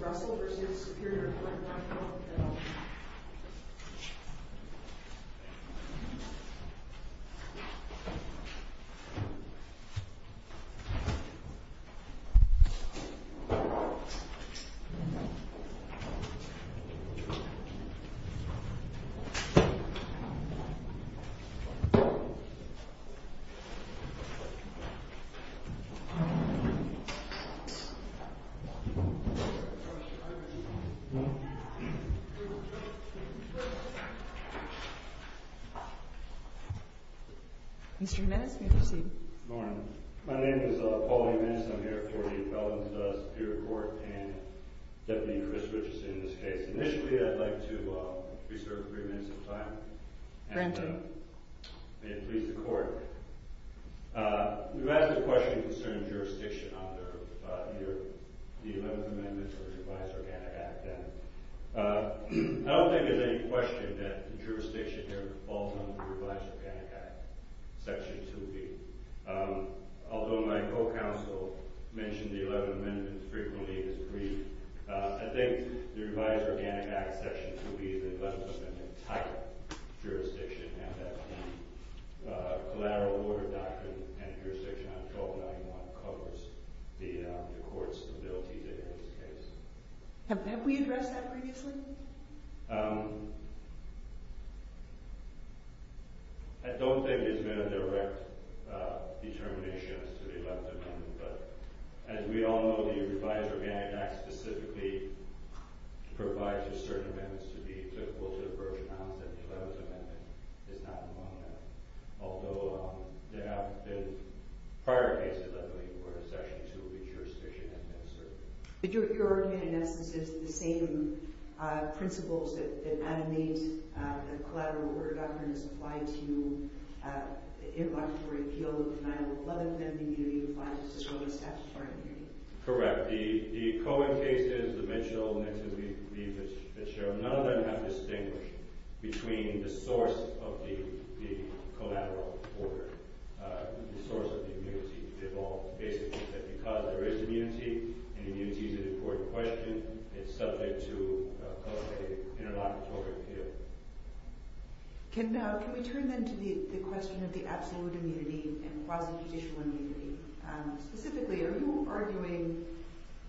Russell v. Superior Court Mr. Jimenez, may I proceed? Good morning. My name is Paul Jimenez. I'm here for the felons of the Superior Court and Deputy Intervist, which is in this case. Initially I'd like to reserve three minutes of time. Granted. May it please the Court. You've asked a question concerning jurisdiction under either the 11th Amendment or the Revised Organic Act. I don't think there's any question that the jurisdiction here falls under the Revised Organic Act, Section 2B. Although my co-counsel mentioned the 11th Amendment frequently as brief, I think the Revised Organic Act, Section 2B, the 11th Amendment-type jurisdiction, and that the collateral order doctrine and jurisdiction on 1291 covers the court's ability to hear this case. Have we addressed that previously? I don't think there's been a direct determination as to the 11th Amendment, but as we all know, the Revised Organic Act specifically provides for certain amendments to be applicable to the approach announced in the 11th Amendment. It's not in the 11th Amendment. Although there have been prior cases, I believe, where Section 2B jurisdiction has been asserted. But your argument, in essence, is the same principles that animate the collateral order doctrine as apply to the interlocutory appeal of the denial of the 11th Amendment immunity as well as the statutory immunity? Correct. The Cohen cases, the mentioned elements that we've shown, none of them have distinguished between the source of the collateral order, the source of the immunity. They've all basically said because there is immunity, and immunity is an important question, it's subject to an interlocutory appeal. Can we turn then to the question of the absolute immunity and quasi-judicial immunity? Specifically, are you arguing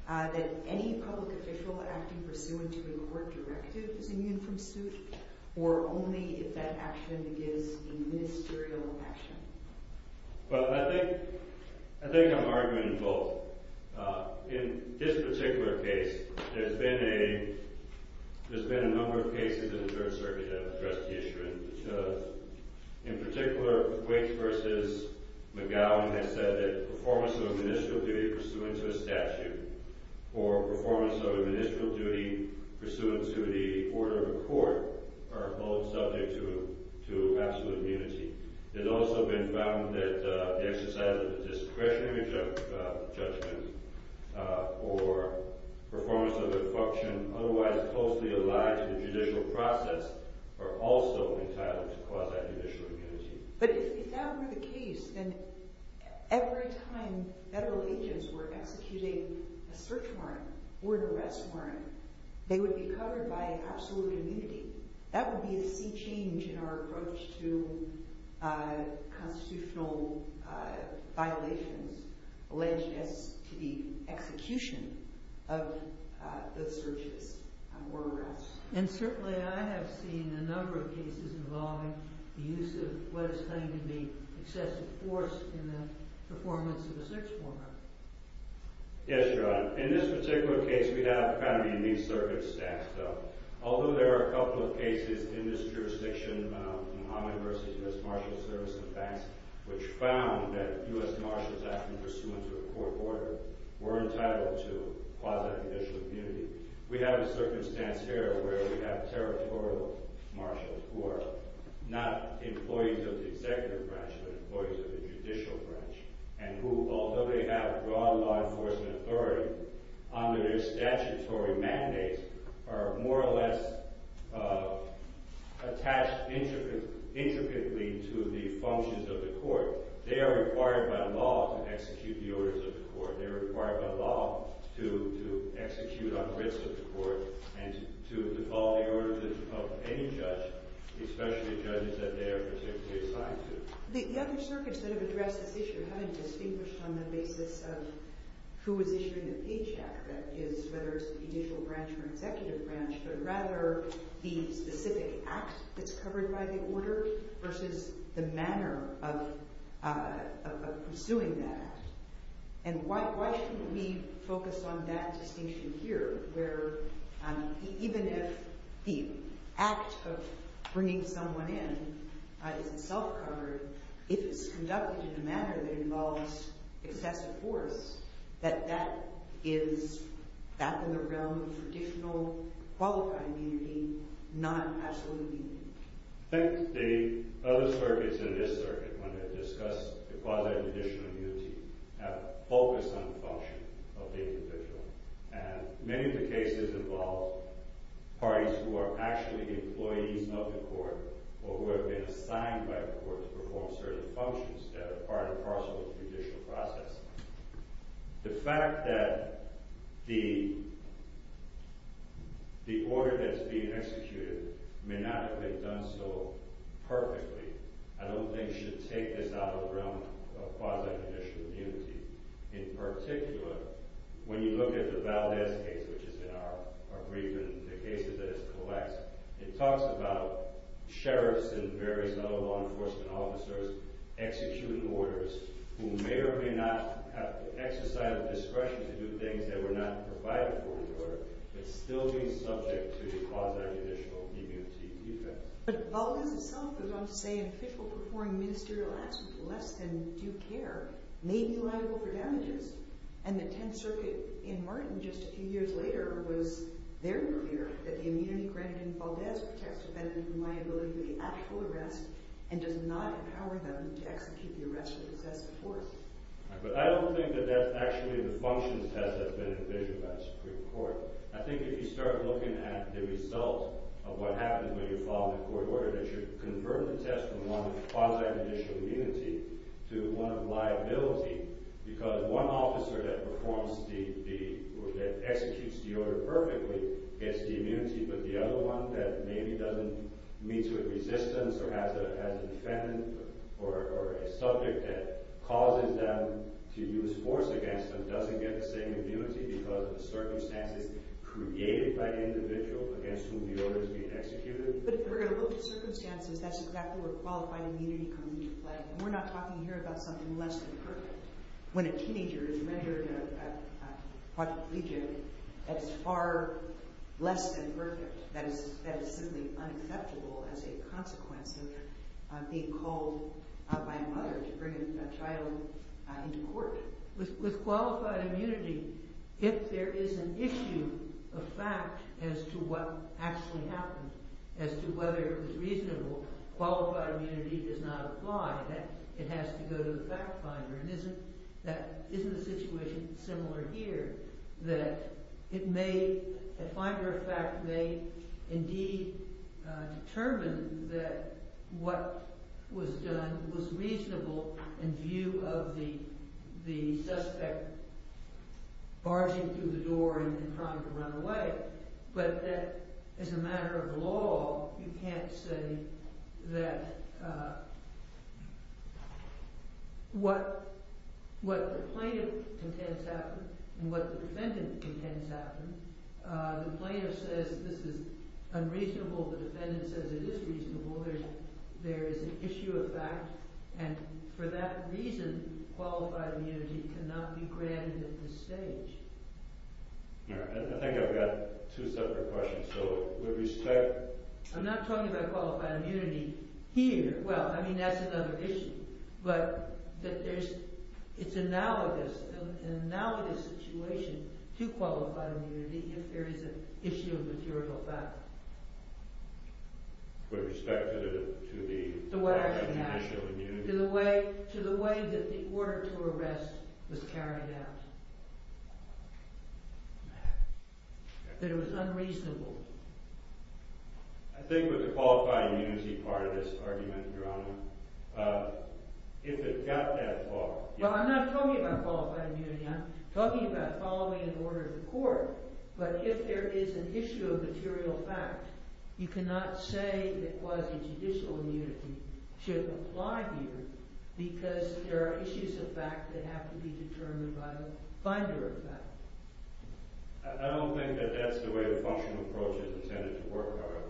that any public official acting pursuant to a court directive is immune from suit, or only if that action is a ministerial action? Well, I think I'm arguing both. In this particular case, there's been a number of cases in the Third Circuit that have addressed the issue. In particular, Waits v. McGowan has said that the performance of a ministerial duty pursuant to a statute or performance of a ministerial duty pursuant to the order of a court are both subject to absolute immunity. It's also been found that the exercise of discretionary judgment or performance of a function otherwise closely aligned to the judicial process are also entitled to quasi-judicial immunity. But if that were the case, then every time federal agents were executing a search warrant or an arrest warrant, they would be covered by absolute immunity. That would be a sea change in our approach to constitutional violations alleged as to the execution of the searches or arrests. And certainly I have seen a number of cases involving the use of what is claimed to be excessive force in the performance of a search warrant. Yes, John. In this particular case, we have kind of a new circumstance, though. Although there are a couple of cases in this jurisdiction, Muhammad v. U.S. Marshals Service and Banks, which found that U.S. Marshals acting pursuant to a court order were entitled to quasi-judicial immunity, we have a circumstance here where we have territorial marshals who are not employees of the executive branch, but employees of the judicial branch and who, although they have broad law enforcement authority, under their statutory mandates are more or less attached intricately to the functions of the court. They are required by law to execute the orders of the court. They are required by law to execute on the wits of the court and to call the orders of any judge, especially judges that they are particularly assigned to. The other circuits that have addressed this issue haven't distinguished on the basis of who is issuing the pay check, whether it's the judicial branch or executive branch, but rather the specific act that's covered by the order versus the manner of pursuing that. And why shouldn't we focus on that distinction here, where even if the act of bringing someone in isn't self-covered, if it's conducted in a manner that involves excessive force, that that is back in the realm of traditional qualified immunity, not absolute immunity. I think the other circuits and this circuit, when they discuss quasi-judicial immunity, have focused on the function of the individual. And many of the cases involve parties who are actually employees of the court or who have been assigned by the court to perform certain functions that are part and parcel of the judicial process. The fact that the order that's being executed may not have been done so perfectly, I don't think should take this out of the realm of quasi-judicial immunity. In particular, when you look at the Valdez case, which is in our brief and the cases that it collects, it talks about sheriffs and various other law enforcement officers executing orders who may or may not have exercised discretion to do things that were not provided for in the order, but still being subject to the quasi-judicial immunity effect. But Valdez itself was on to say an official performing ministerial action for less than due care may be liable for damages, and the Tenth Circuit in Martin just a few years later was very clear that the immunity granted in Valdez protects a defendant from liability for the actual arrest and does not empower them to execute the arrest with excessive force. But I don't think that that's actually the functions as has been envisioned by the Supreme Court. I think if you start looking at the result of what happens when you follow the court order, that you convert the test from one quasi-judicial immunity to one of liability, because one officer that performs the, that executes the order perfectly gets the immunity, but the other one that maybe doesn't meet to a resistance or has a defendant or a subject that causes them to use force against them doesn't get the same immunity because of the circumstances created by the individual against whom the order is being executed. But if we're going to look at circumstances, that's exactly where qualified immunity comes into play. And we're not talking here about something less than perfect. When a teenager is rendered quadriplegic, that is far less than perfect. That is simply unacceptable as a consequence of being called by a mother to bring a child into court. With qualified immunity, if there is an issue of fact as to what actually happened, as to whether it was reasonable, qualified immunity does not apply. It has to go to the fact finder. And isn't the situation similar here, that it may, a finder of fact may indeed determine that what was done was reasonable in view of the suspect barging through the door and trying to run away. But as a matter of law, you can't say that what the plaintiff contends happened and what the defendant contends happened. The plaintiff says this is unreasonable. The defendant says it is reasonable. There is an issue of fact. And for that reason, qualified immunity cannot be granted at this stage. I think I've got two separate questions. I'm not talking about qualified immunity here. Well, I mean, that's another issue. But it's analogous, an analogous situation to qualified immunity if there is an issue of a juridical fact. With respect to the... To the way that the order to arrest was carried out. That it was unreasonable. I think with the qualified immunity part of this argument, Your Honor, if it got that far... Well, I'm not talking about qualified immunity. But if there is an issue of material fact, you cannot say that quasi-judicial immunity should apply here because there are issues of fact that have to be determined by the finder of fact. I don't think that that's the way the functional approach is intended to work, however.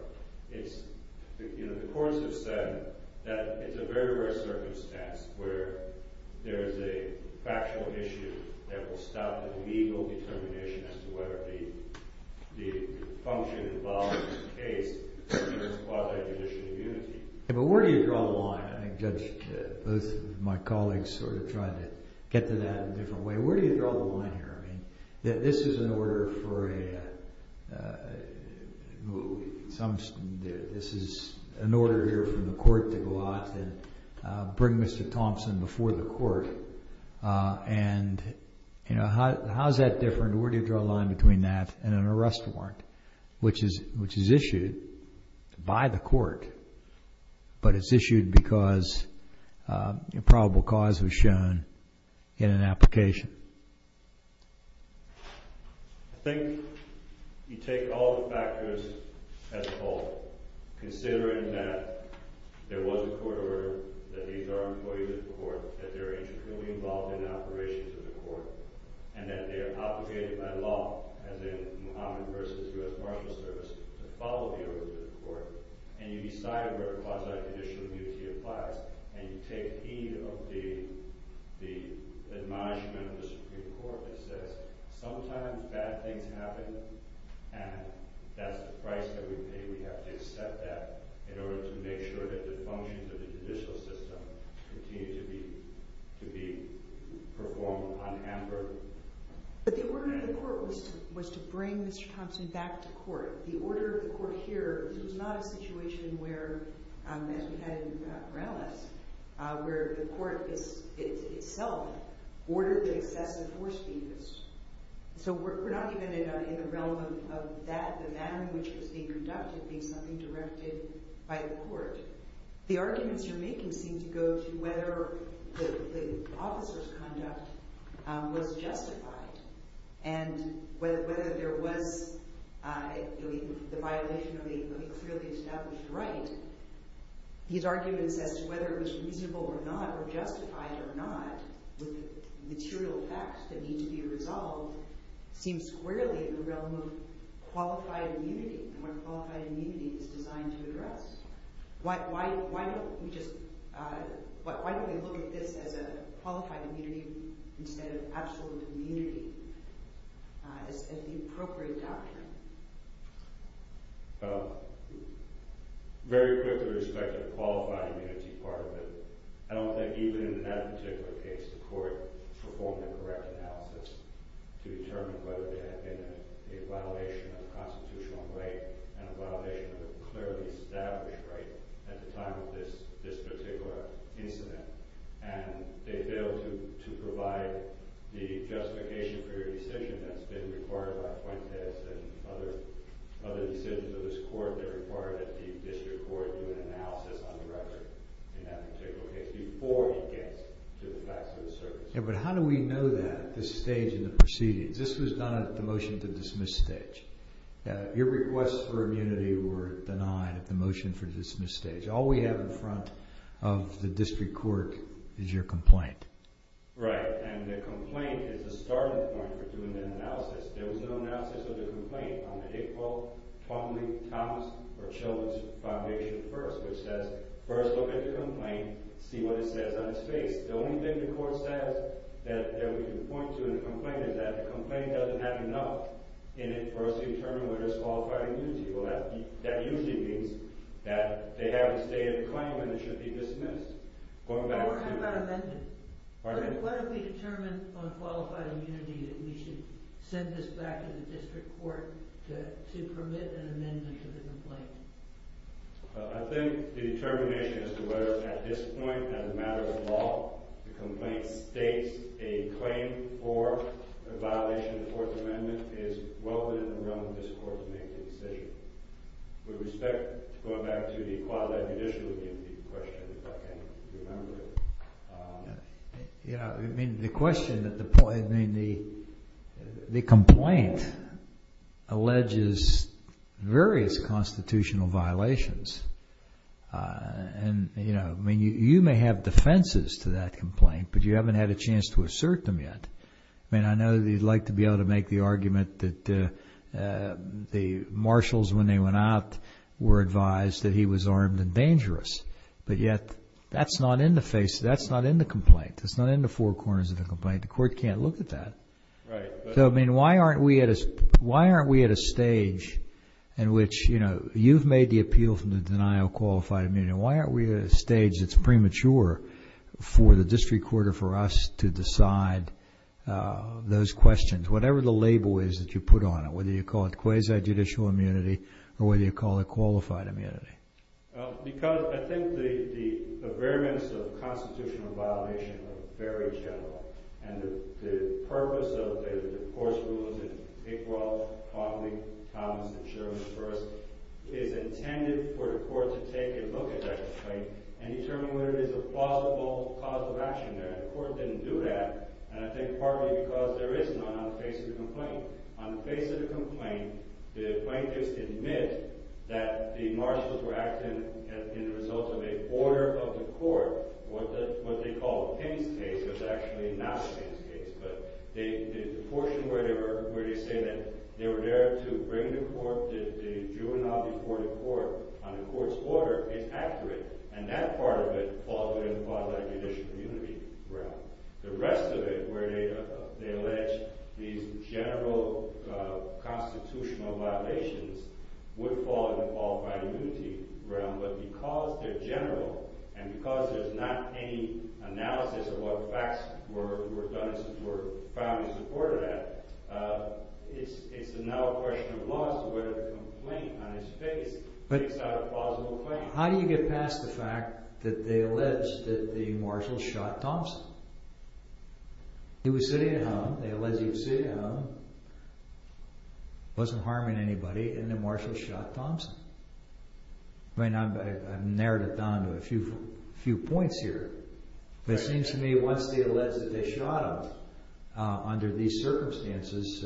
The courts have said that it's a very rare circumstance where there is a factual issue that will stop a legal determination as to whether the function involved in the case is quasi-judicial immunity. But where do you draw the line? I think Judge, both of my colleagues sort of tried to get to that in a different way. Where do you draw the line here? I mean, this is an order for a... This is an order here from the court to go out and bring Mr. Thompson before the court. And, you know, how is that different? Where do you draw the line between that and an arrest warrant? Which is issued by the court, but it's issued because a probable cause was shown in an application. I think you take all the factors as a whole. Considering that there was a court order, that these are employees of the court, that they're internally involved in operations of the court, and that they are obligated by law, as in Muhammad versus U.S. Marshals Service, to follow the order of the court. And you decide where quasi-judicial immunity applies. And you take heed of the admonishment of the Supreme Court that says, sometimes bad things happen, and that's the price that we pay. We have to accept that in order to make sure that the functions of the judicial system continue to be performed unhampered. But the order of the court was to bring Mr. Thompson back to court. The order of the court here was not a situation where, as we had in Morales, where the court itself ordered the excessive force be used. So we're not even in the realm of that, the manner in which it was being conducted, being something directed by the court. The arguments you're making seem to go to whether the officer's conduct was justified, and whether there was the violation of a clearly established right. These arguments as to whether it was reasonable or not, or justified or not, with material facts that need to be resolved, seem squarely in the realm of qualified immunity, and what qualified immunity is designed to address. Why don't we look at this as a qualified immunity instead of absolute immunity, as the appropriate doctrine? Very quickly with respect to the qualified immunity part of it, I don't think even in that particular case the court performed a correct analysis to determine whether there had been a violation of a constitutional right and a violation of a clearly established right at the time of this particular incident. And they failed to provide the justification for your decision that's been required by Puentes and other decisions of this court that required that the district court do an analysis on the record in that particular case before he gets to the facts of the circumstances. But how do we know that at this stage in the proceedings? This was done at the motion to dismiss stage. Your requests for immunity were denied at the motion for dismiss stage. All we have in front of the district court is your complaint. Right, and the complaint is the starting point for doing that analysis. There was no analysis of the complaint on the Higwell, Twombly, Thomas, or Children's Foundation first, which says first look at the complaint, see what it says on its face. The only thing the court says that we can point to in the complaint is that the complaint doesn't have enough in it for us to determine whether it's qualified immunity. Well, that usually means that they have a stated claim and it should be dismissed. What about amendment? Pardon? What have we determined on qualified immunity that we should send this back to the district court to permit an amendment to the complaint? I think the determination as to whether at this point, as a matter of law, the complaint states a claim for a violation of the Fourth Amendment is well within the realm of this court to make the decision. With respect, going back to the qualified judicial immunity question, if I can remember it. The question, the complaint alleges various constitutional violations. You may have defenses to that complaint, but you haven't had a chance to assert them yet. I know that you'd like to be able to make the argument that the marshals, when they went out, were advised that he was armed and dangerous. But yet, that's not in the complaint. It's not in the four corners of the complaint. The court can't look at that. Right. Those questions, whatever the label is that you put on it, whether you call it quasi-judicial immunity or whether you call it qualified immunity. Well, because I think the variance of constitutional violation are very general. And the purpose of the court's rules in Pickwell, Conley, Thomas, and Sherman first is intended for the court to take a look at that complaint and determine whether it is a plausible cause of action there. And yet, the court didn't do that. And I think partly because there is none on the face of the complaint. On the face of the complaint, the plaintiffs admit that the marshals were acting as a result of an order of the court. What they call Paine's case was actually not Paine's case. But the portion where they say that they were there to bring the court, the juvenile before the court, on the court's order is accurate. And that part of it falls within the quasi-judicial immunity realm. The rest of it, where they allege these general constitutional violations, would fall in the qualified immunity realm. But because they're general and because there's not any analysis of what facts were done to support it, it's now a question of law as to whether the complaint on its face takes out a plausible claim. How do you get past the fact that they allege that the marshals shot Thompson? He was sitting at home, they allege he was sitting at home, wasn't harming anybody, and the marshals shot Thompson. I've narrowed it down to a few points here. But it seems to me that once they allege that they shot him, under these circumstances,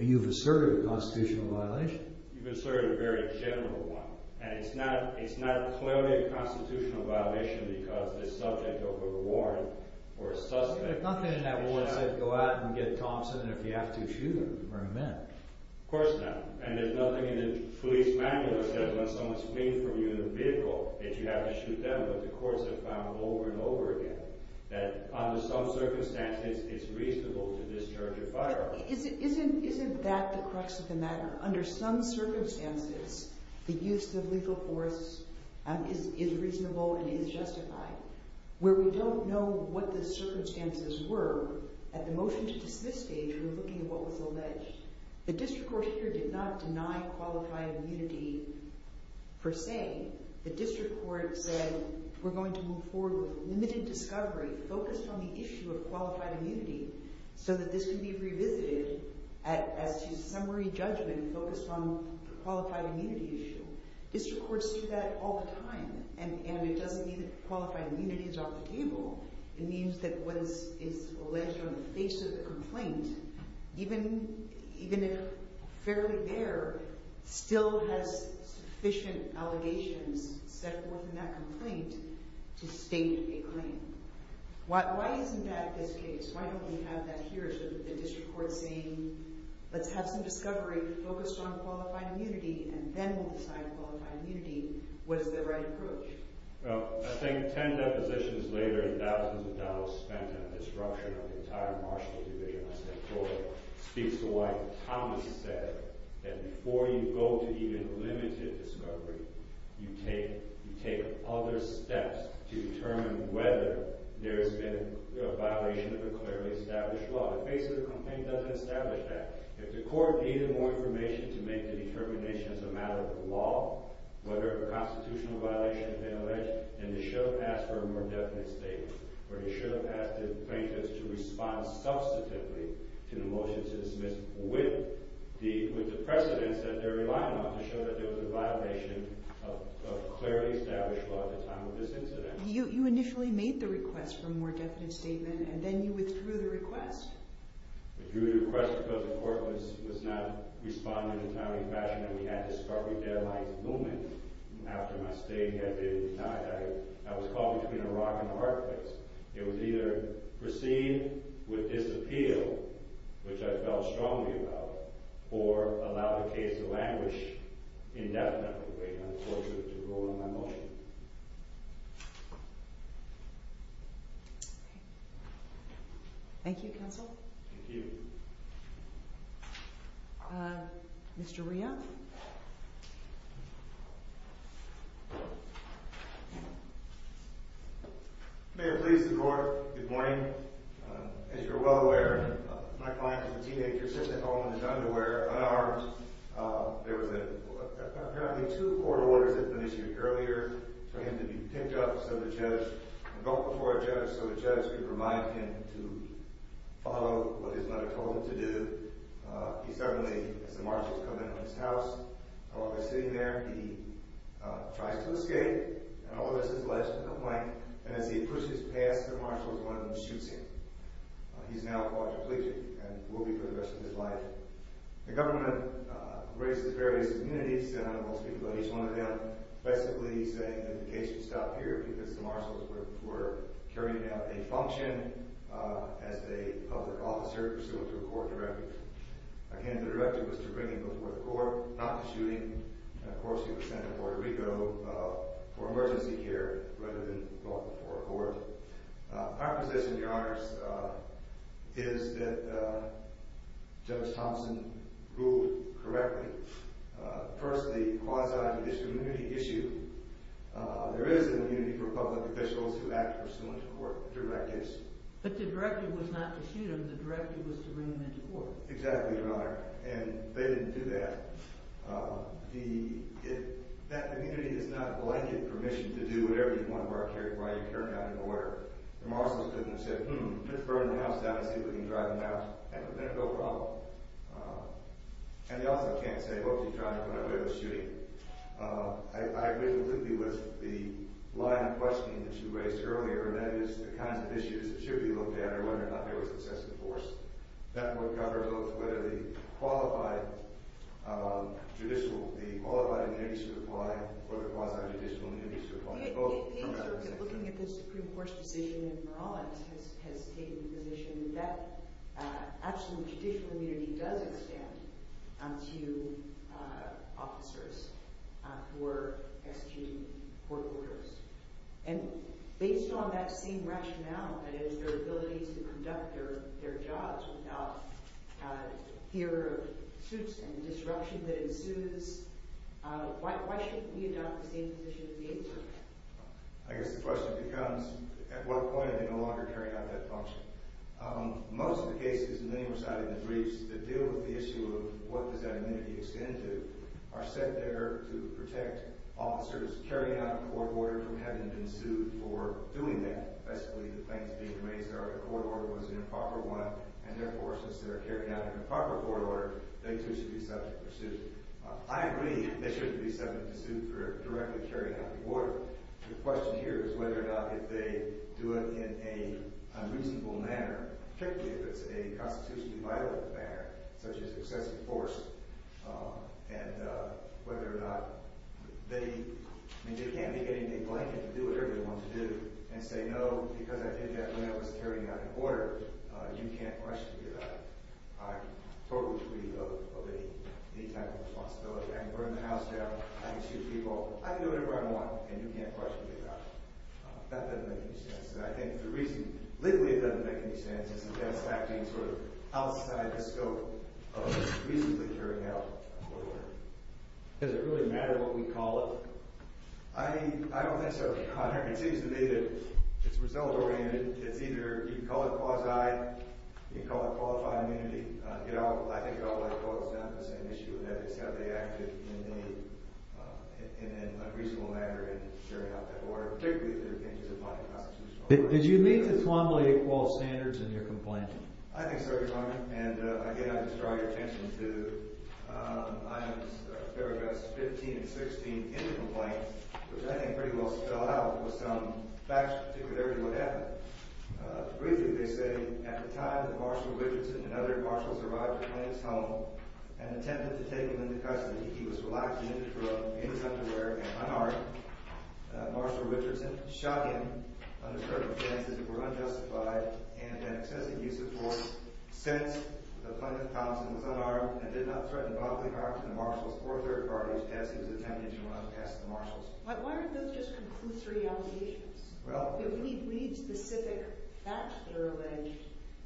you've asserted a constitutional violation. You've asserted a very general one. And it's not clearly a constitutional violation because the subject of a warrant or a suspect. There's nothing in that warrant that says go out and get Thompson if you have to shoot him or him in. Of course not. And there's nothing in the police manual that says when someone's fleeing from you in a vehicle that you have to shoot them. But the courts have found over and over again that under some circumstances it's reasonable to discharge a firearm. Isn't that the crux of the matter? Under some circumstances, the use of legal force is reasonable and is justified. Where we don't know what the circumstances were at the motion to dismiss stage, we're looking at what was alleged. The district court here did not deny qualified immunity per se. The district court said we're going to move forward with limited discovery, focused on the issue of qualified immunity, so that this can be revisited as to summary judgment focused on the qualified immunity issue. District courts do that all the time, and it doesn't mean that qualified immunity is off the table. It means that what is alleged on the face of the complaint, even if fairly there, still has sufficient allegations set forth in that complaint to state a claim. Why isn't that this case? Why don't we have that here? The district court saying, let's have some discovery focused on qualified immunity, and then we'll decide qualified immunity. What is the right approach? Well, I think ten depositions later and thousands of dollars spent on disruption of the entire marshal division, I said Florida speaks to why Thomas said that before you go to even limited discovery, you take other steps to determine whether there has been a violation of a clearly established law. The face of the complaint doesn't establish that. If the court needed more information to make the determination as a matter of law, whether a constitutional violation had been alleged, then they should have asked for a more definite statement, or they should have asked the plaintiffs to respond substantively to the motion to dismiss with the precedence that they're relying on to show that there was a violation of a clearly established law at the time of this incident. You initially made the request for a more definite statement, and then you withdrew the request. I withdrew the request because the court was not responding in the timely fashion that we had discovery deadlines looming. After my statement had been denied, I was caught between a rock and a hard place. It was either proceed with disappeal, which I felt strongly about, or allow the case of anguish indefinitely. I'm fortunate to rule on my motion. Thank you, counsel. Thank you. Mr. Rhea? Thank you. May it please the court, good morning. As you are well aware, my client is a teenager sitting at home in his underwear, unarmed. There was apparently two court orders that were issued earlier for him to be picked up, and brought before a judge so the judge could remind him to follow what his mother told him to do. He suddenly, as the marshals come into his house, while they're sitting there, he tries to escape, and all of this is alleged to the point that as he pushes past the marshals, one of them shoots him. He's now caught for pleasing, and will be for the rest of his life. The government raises various immunities, and I won't speak about each one of them, basically saying that the case should stop here because the marshals were carrying out a function as a public officer pursuant to a court directive. Again, the directive was to bring him to a court, not to shooting. Of course, he was sent to Puerto Rico for emergency care rather than brought before a court. My position, Your Honors, is that Judge Thompson ruled correctly. First, the quasi-judicial immunity issue. There is an immunity for public officials who act pursuant to court directives. But the directive was not to shoot him. The directive was to bring him into court. Exactly, Your Honor, and they didn't do that. That immunity does not blanket permission to do whatever you want to do while you're carrying out an order. The marshals couldn't have said, hmm, let's burn the house down and see if we can drive him out. That would have been a real problem. And they also can't say, hope you drive whenever there's a shooting. I agree completely with the line of questioning that you raised earlier, and that is the kinds of issues that should be looked at or whether or not they were successfully enforced. That would cover whether the qualified judicial, the qualified immunity should apply or the quasi-judicial immunity should apply. Looking at the Supreme Court's decision in Morales has taken the position that absolute judicial immunity does extend to officers who are executing court orders. And based on that same rationale, that is, their ability to conduct their jobs without fear of suits and disruption that ensues, why shouldn't we adopt the same position that they do? I guess the question becomes, at what point are they no longer carrying out that function? Most of the cases, and many were cited in the briefs, that deal with the issue of what does that immunity extend to are set there to protect officers carrying out a court order from having been sued for doing that. Basically, the claims being raised are that a court order was an improper one, and therefore, since they're carrying out an improper court order, they too should be subject to a suit. I agree they shouldn't be subject to suit for directly carrying out the order. The question here is whether or not if they do it in a reasonable manner, particularly if it's a constitutionally vital manner, such as successfully enforced, and whether or not they – I mean, they can't be getting a blanket and do whatever they want to do and say, no, because I think that man was carrying out the order, you can't question me about it. I'm totally free of any type of responsibility. I can burn the house down. I can shoot people. I can do whatever I want, and you can't question me about it. That doesn't make any sense, and I think the reason – legally, it doesn't make any sense, is that that's acting sort of outside the scope of reasonably carrying out a court order. Does it really matter what we call it? I don't think so, Your Honor. It seems to me that it's result-oriented. It's either – you can call it quasi, you can call it qualified immunity. I think it all boils down to the same issue of ethics. How do they act in a reasonable manner in carrying out that order, particularly if they're being disciplined in a constitutional order? Did you meet the Twombly equal standards in your complaint? I think so, Your Honor, and again, I just draw your attention to items, paragraphs 15 and 16 in the complaint, which I think pretty well spell out with some facts particularly what happened. Briefly, they say, at the time that Marshal Richardson and other marshals arrived at the plaintiff's home and attempted to take him into custody, he was relaxing in his underwear and unarmed. Marshal Richardson shot him under circumstances that were unjustified and an excessive use of force. Since, the plaintiff, Thompson, was unarmed and did not threaten bodily harm to the marshals or their parties as he was attempting to run past the marshals. Why aren't those just conclusory allegations? If we need specific facts that are alleged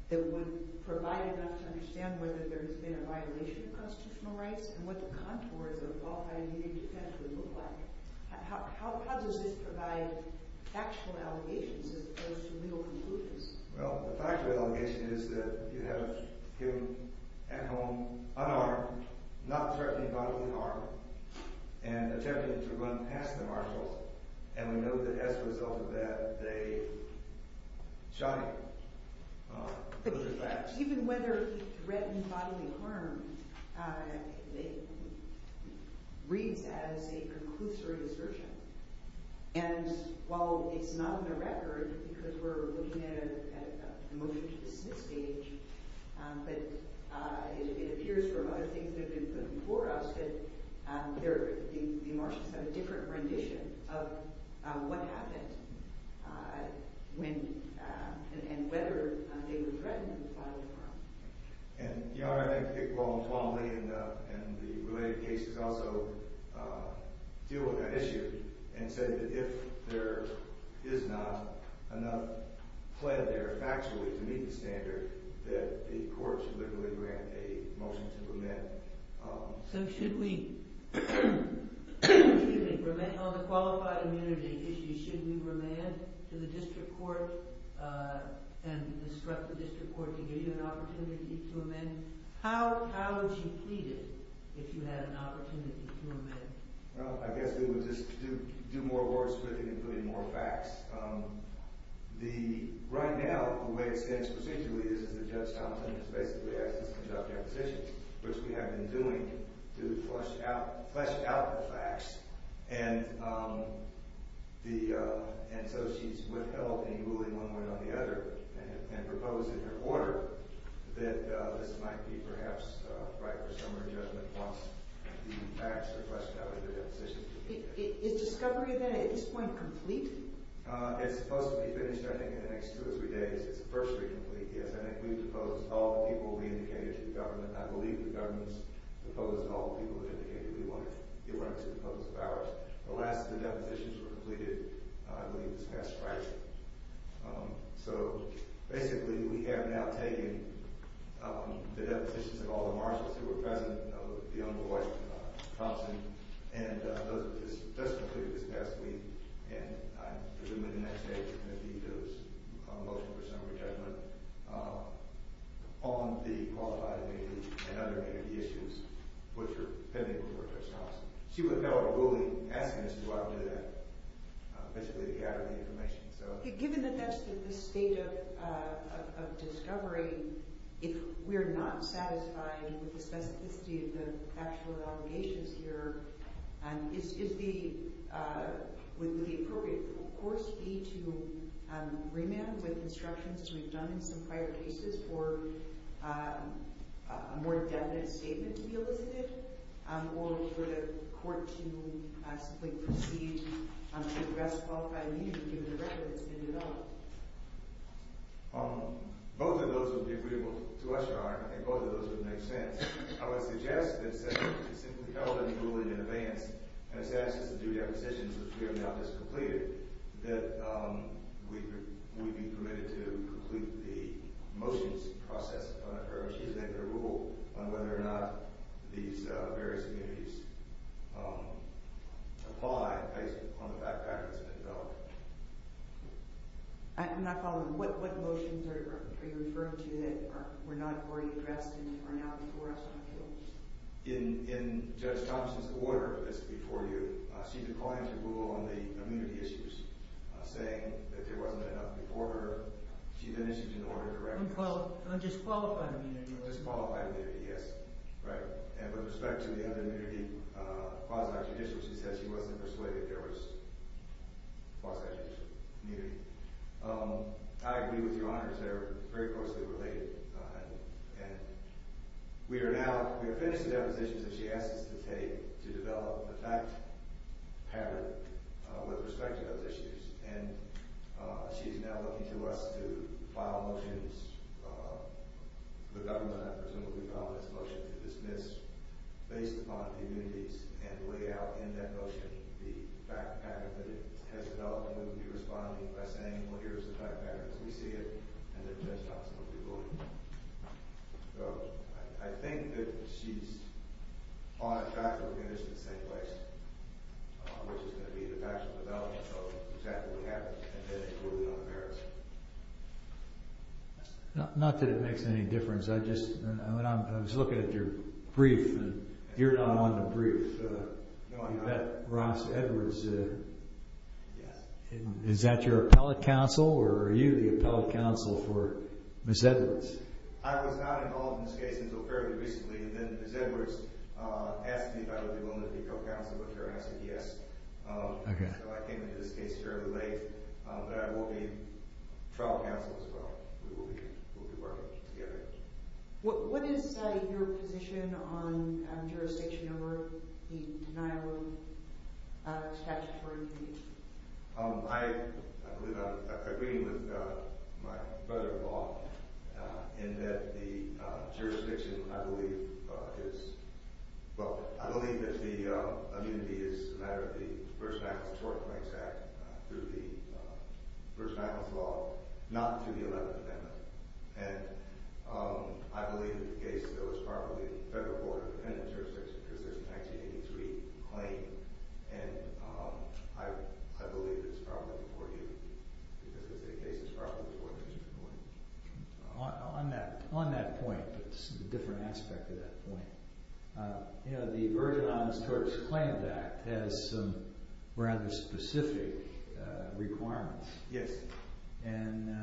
that would provide enough to understand whether there's been a violation of constitutional rights and what the contours of a qualified immunity defense would look like, how does this provide factual allegations as opposed to legal conclusions? Well, the factual allegation is that you have him at home unarmed, not threatening bodily harm, and attempting to run past the marshals, and we know that as a result of that they shot him. Those are facts. Even whether he threatened bodily harm reads as a conclusory assertion. And while it's not on the record, because we're looking at a motion to dismiss the case, but it appears from other things that have been put before us that the marshals have a different rendition of what happened and whether they were threatened bodily harm. And, Your Honor, I think that Dick, Paul, and Tom Lee and the related cases also deal with that issue and say that if there is not enough fled there factually to meet the standard, that the court should literally grant a motion to remand. So should we remand on the qualified immunity issue, should we remand to the district court and instruct the district court to give you an opportunity to remand? How would you plead it if you had an opportunity to remand? Well, I guess we would just do more words with it and put in more facts. Right now, the way it stands procedurally is that Judge Tomlinson has basically asked us to adopt our position, which we have been doing, to flesh out the facts. And so she's withheld any ruling one way or the other and proposed in her order that this might be perhaps right for some of her judgment once the facts are fleshed out in the deposition. Is discovery of that at this point complete? It's supposed to be finished, I think, in the next two or three days. It's virtually complete, yes. I think we've proposed all the people we indicated to the government. I believe the government has proposed all the people we've indicated we want to get right to the folks of ours. The last of the depositions were completed, I believe, this past Friday. So basically, we have now taken the depositions of all the marshals who were present, of the underwriter, Tomlinson, and those that just completed this past week. And I presume in the next day there's going to be a motion for summary judgment on the qualifiability and other issues which are pending before Judge Thompson. She would have held a ruling asking us to do that, basically to gather the information. Given that that's the state of discovery, if we're not satisfied with the specificity of the factual allegations here, would the appropriate course be to remand with instructions, as we've done in some prior cases, for a more definite statement to be elicited? Or for the court to simply proceed to address qualified immunity given the record that's been developed? Both of those would be agreeable to us, Your Honor, and both of those would make sense. I would suggest that since she's held that ruling in advance, and has said since the due depositions which we have now just completed, that we be permitted to complete the motions process, or she's made the rule, on whether or not these various immunities apply based on the fact that it's been developed. I'm not following. What motions are you referring to that were not before you addressed and are now before us on appeals? In Judge Thompson's order that's before you, she declined to rule on the immunity issues, saying that there wasn't enough before her. She then issued an order to recognize... Disqualified immunity. Disqualified immunity, yes. Right. And with respect to the other immunity, quasi-judicial, she said she wasn't persuaded there was quasi-judicial immunity. I agree with Your Honors, they're very closely related. And we are now, we have finished the depositions that she asked us to take to develop the fact pattern with respect to those issues. And she is now looking to us to file motions, the government, I presume, will file this motion to dismiss, based upon immunities, and lay out in that motion the fact pattern that it has developed. And we'll be responding by saying, well, here's the fact pattern as we see it, and then Judge Thompson will be ruling. So, I think that she's on track to finish in the same place, which is going to be the factual development of exactly what happened, and then it will be on the merits. Not that it makes any difference. I just, when I was looking at your brief, and you're not one to brief. No, I'm not. You met Ross Edwards. Yes. Is that your appellate counsel, or are you the appellate counsel for Ms. Edwards? I was not involved in this case until fairly recently, and then Ms. Edwards asked me if I would be willing to be co-counsel, which I answered yes. So I came into this case fairly late, but I will be trial counsel as well. We will be working together. What is your position on jurisdiction over the denial of statutory immunity? I believe I'm agreeing with my brother-in-law, in that the jurisdiction, I believe, is, well, I believe that the immunity is a matter of the First Amendment and Short Claims Act through the First Amendment law, not through the 11th Amendment. And I believe that the case, though, is probably a federal court-independent jurisdiction, because there's a 1983 claim, and I believe it's probably before you, because the case is probably before you. On that point, but it's a different aspect of that point, you know, the Virgin Islands Tortoise Claims Act has some rather specific requirements. Yes. And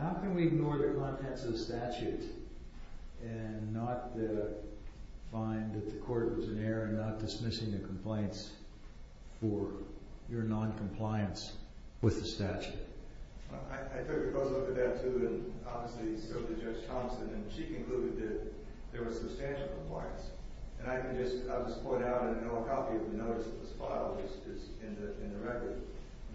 how can we ignore the contents of the statute and not find that the court was in error in not dismissing the compliance for your noncompliance with the statute? I took a closer look at that, too, and obviously spoke to Judge Thompson, and she concluded that there was substantial compliance. And I can just, I'll just point out, and I know a copy of the notice that was filed is in the record.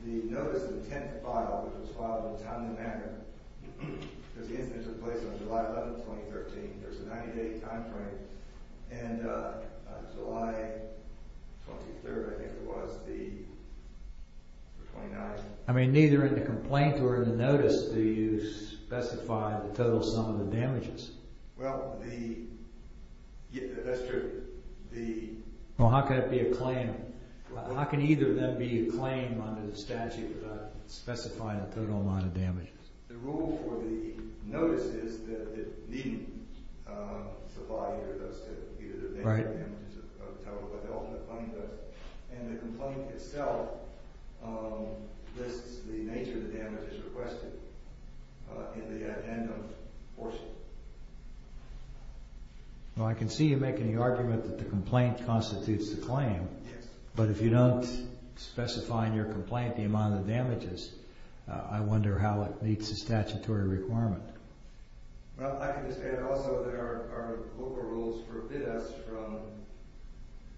The notice of the 10th file, which was filed in Town and Manor, because the incident took place on July 11th, 2013, there was a 90-day time frame, and July 23rd, I think, was the 29th. I mean, neither in the complaint nor in the notice do you specify the total sum of the damages. Well, the, that's true. Well, how can it be a claim? How can either of them be a claim under the statute without specifying the total amount of damages? The rule for the notice is that it needn't supply either of those, either the damages or the total, but it ought to claim those. And the complaint itself lists the nature of the damages requested in the addendum portion. Well, I can see you making the argument that the complaint constitutes the claim. Yes. But if you don't specify in your complaint the amount of damages, I wonder how it meets the statutory requirement. Well, I can just add also that our local rules forbid us from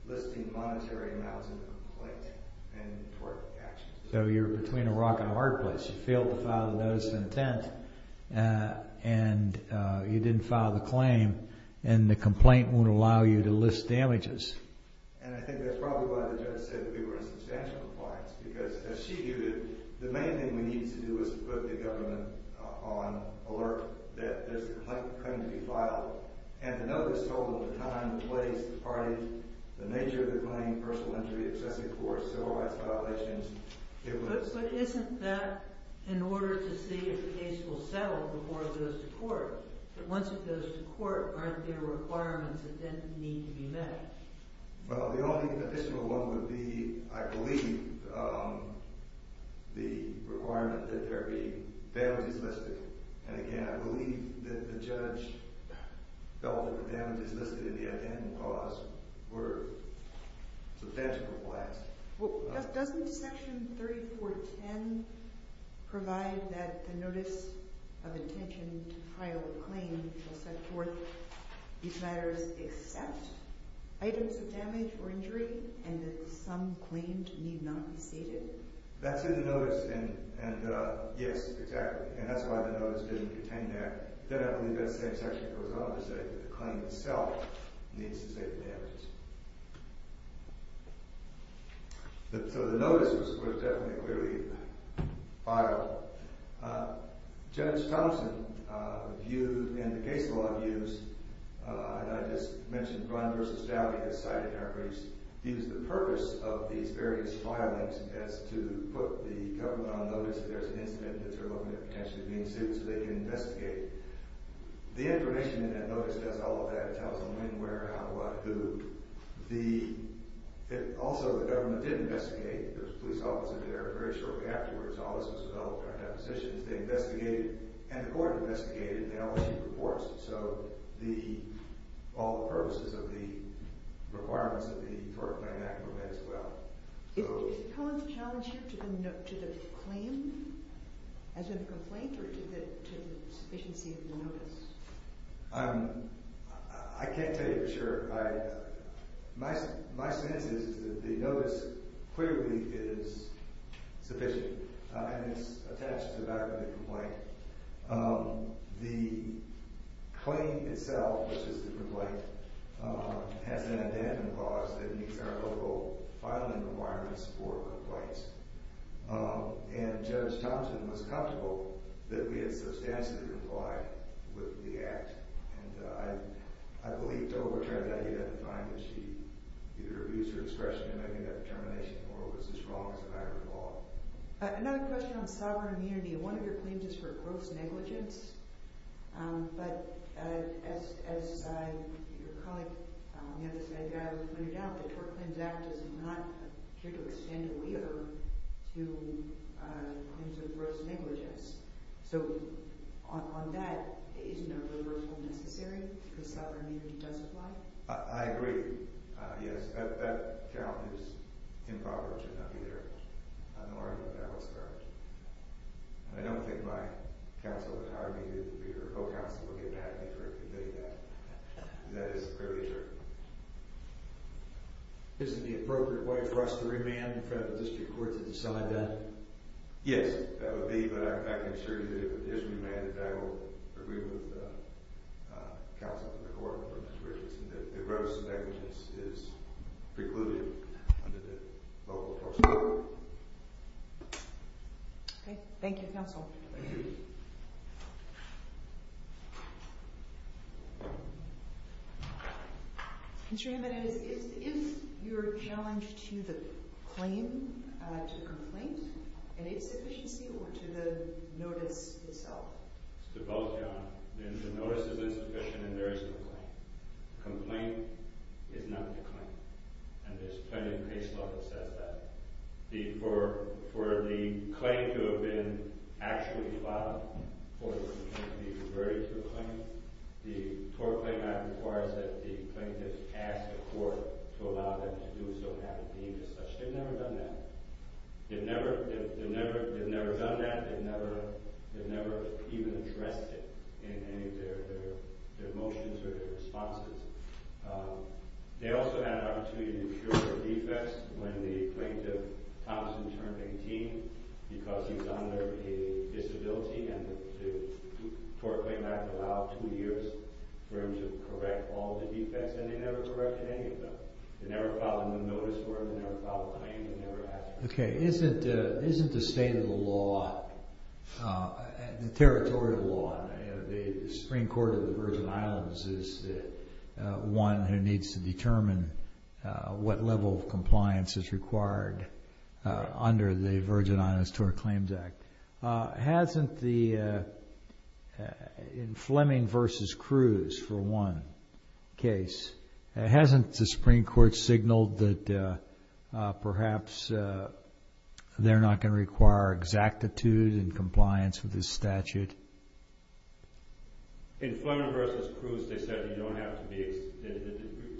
listing monetary amounts in the complaint and tort actions. So you're between a rock and a hard place. You failed to file the notice of intent, and you didn't file the claim, and the complaint won't allow you to list damages. And I think that's probably why the judge said that we were in substantial compliance, because as she viewed it, the main thing we needed to do was to put the government on alert that this claim could be filed. And the notice told them the time, the place, the party, the nature of the claim, personal injury, excessive force, civil rights violations. But isn't that in order to see if the case will settle before it goes to court, that once it goes to court, aren't there requirements that then need to be met? Well, the only official one would be, I believe, the requirement that there be damages listed. And again, I believe that the judge felt that the damages listed in the intent and cause were substantial compliance. Doesn't Section 3410 provide that the notice of intention to file a claim will set forth these matters except items of damage or injury, and that some claimed need not be stated? That's in the notice, and yes, exactly. And that's why the notice didn't contain that. Then I believe that same section goes on to say that the claim itself needs to state the damages. So the notice was, of course, definitely clearly filed. Judge Thompson, in the case law views, and I just mentioned Grunn v. Dowdy has cited in our briefs, used the purpose of these various filings as to put the government on notice that there's an incident that they're looking at potentially being sued so they can investigate. The information in that notice does all of that. It tells them when, where, how, what, who. Also, the government did investigate. There was a police officer there. Very shortly afterwards, all this was developed in our depositions. They investigated, and the court investigated, and they all issued reports. So all the purposes of the requirements of the Tort Claim Act were met as well. Is the challenge here to the claim as in a complaint or to the sufficiency of the notice? I can't tell you for sure. My sense is that the notice clearly is sufficient, and it's attached to that of the complaint. The claim itself, which is the complaint, has an addendum clause that meets our local filing requirements for complaints, and Judge Thompson was comfortable that we had substantially complied with the act. I believe, though, that you'd have to find that she either abused her discretion in making that determination, or it was as wrong as a matter of law. Another question on sovereign immunity. One of your claims is for gross negligence, but as your colleague said, when you're down, the Tort Claims Act is not here to extend a waiver to claims of gross negligence. So on that, isn't a waiver necessary because sovereign immunity does apply? I agree, yes. That challenge is impoverished, and I'll be there. I don't think my counsel would hire me to be your co-counsel or get mad at me for conveying that. That is clearly certain. Isn't the appropriate way for us to remand in front of the district court to decide that? Yes, that would be. But I can assure you that if it is remanded, that will agree with the counsel of the court or Mr. Richardson that gross negligence is precluded under the local tort score. Okay. Thank you, counsel. Thank you. Thank you. Mr. Hamman, is your challenge to the claim, to complaint, an insufficiency or to the notice itself? It's to both, Your Honor. The notice is insufficient in various ways. The complaint is not the claim. And there's plenty of case law that says that. For the claim to have been actually filed, for the claim to be referred to a claim, the tort claim act requires that the plaintiff ask the court to allow them to do so and have it deemed as such. They've never done that. They've never done that. They've never even addressed it in any of their motions or their responses. They also had an opportunity to cure their defects when the plaintiff, Thompson, turned 18 because he was under a disability. And the tort claim act allowed two years for him to correct all the defects. And they never corrected any of them. They never filed a new notice for him. They never filed a claim. They never asked for it. Okay. Isn't the state of the law, the territorial law, the Supreme Court of the Virgin Islands is the one who needs to determine what level of compliance is required under the Virgin Islands Tort Claims Act. Hasn't the, in Fleming v. Cruz, for one case, hasn't the Supreme Court signaled that perhaps they're not going to require exactitude in compliance with this statute? In Fleming v. Cruz, they said you don't have to be,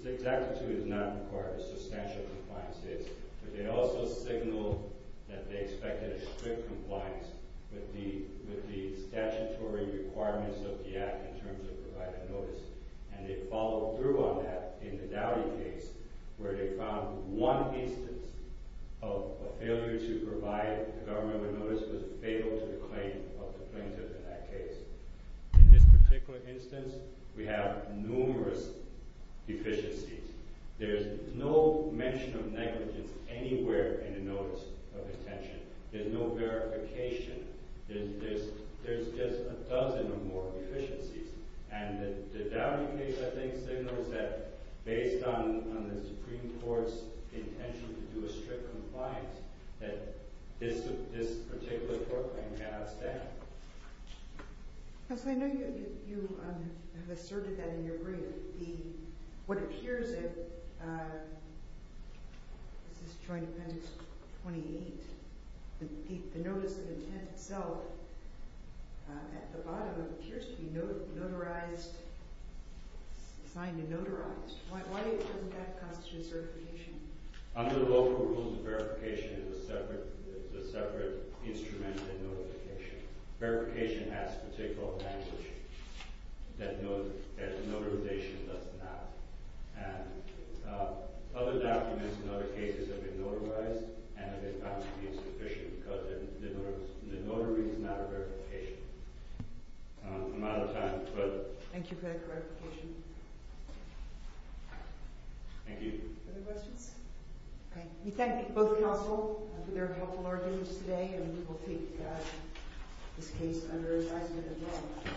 exactitude is not required as substantial compliance is. But they also signaled that they expected a strict compliance with the statutory requirements of the act in terms of providing notice. And they followed through on that in the Dowdy case where they found one instance of a failure to provide a government notice was fatal to the claim of the plaintiff in that case. In this particular instance, we have numerous deficiencies. There's no mention of negligence anywhere in the notice of detention. There's no verification. There's just a dozen or more deficiencies. And the Dowdy case, I think, signals that based on the Supreme Court's intention to do a strict compliance, that this particular tort claim cannot stand. Yes, I know you have asserted that in your brief. What appears in Joint Appendix 28, the notice of intent itself at the bottom appears to be notarized, signed and notarized. Why doesn't that constitute certification? Under the local rules, verification is a separate instrument than notification. Verification has particular language that notarization does not. And other documents in other cases have been notarized and have been found to be insufficient because the notary is not a verification. I'm out of time. Thank you for that clarification. Thank you. Other questions? Okay. We thank both counsel for their helpful arguments today and we will take this case under advisement as well.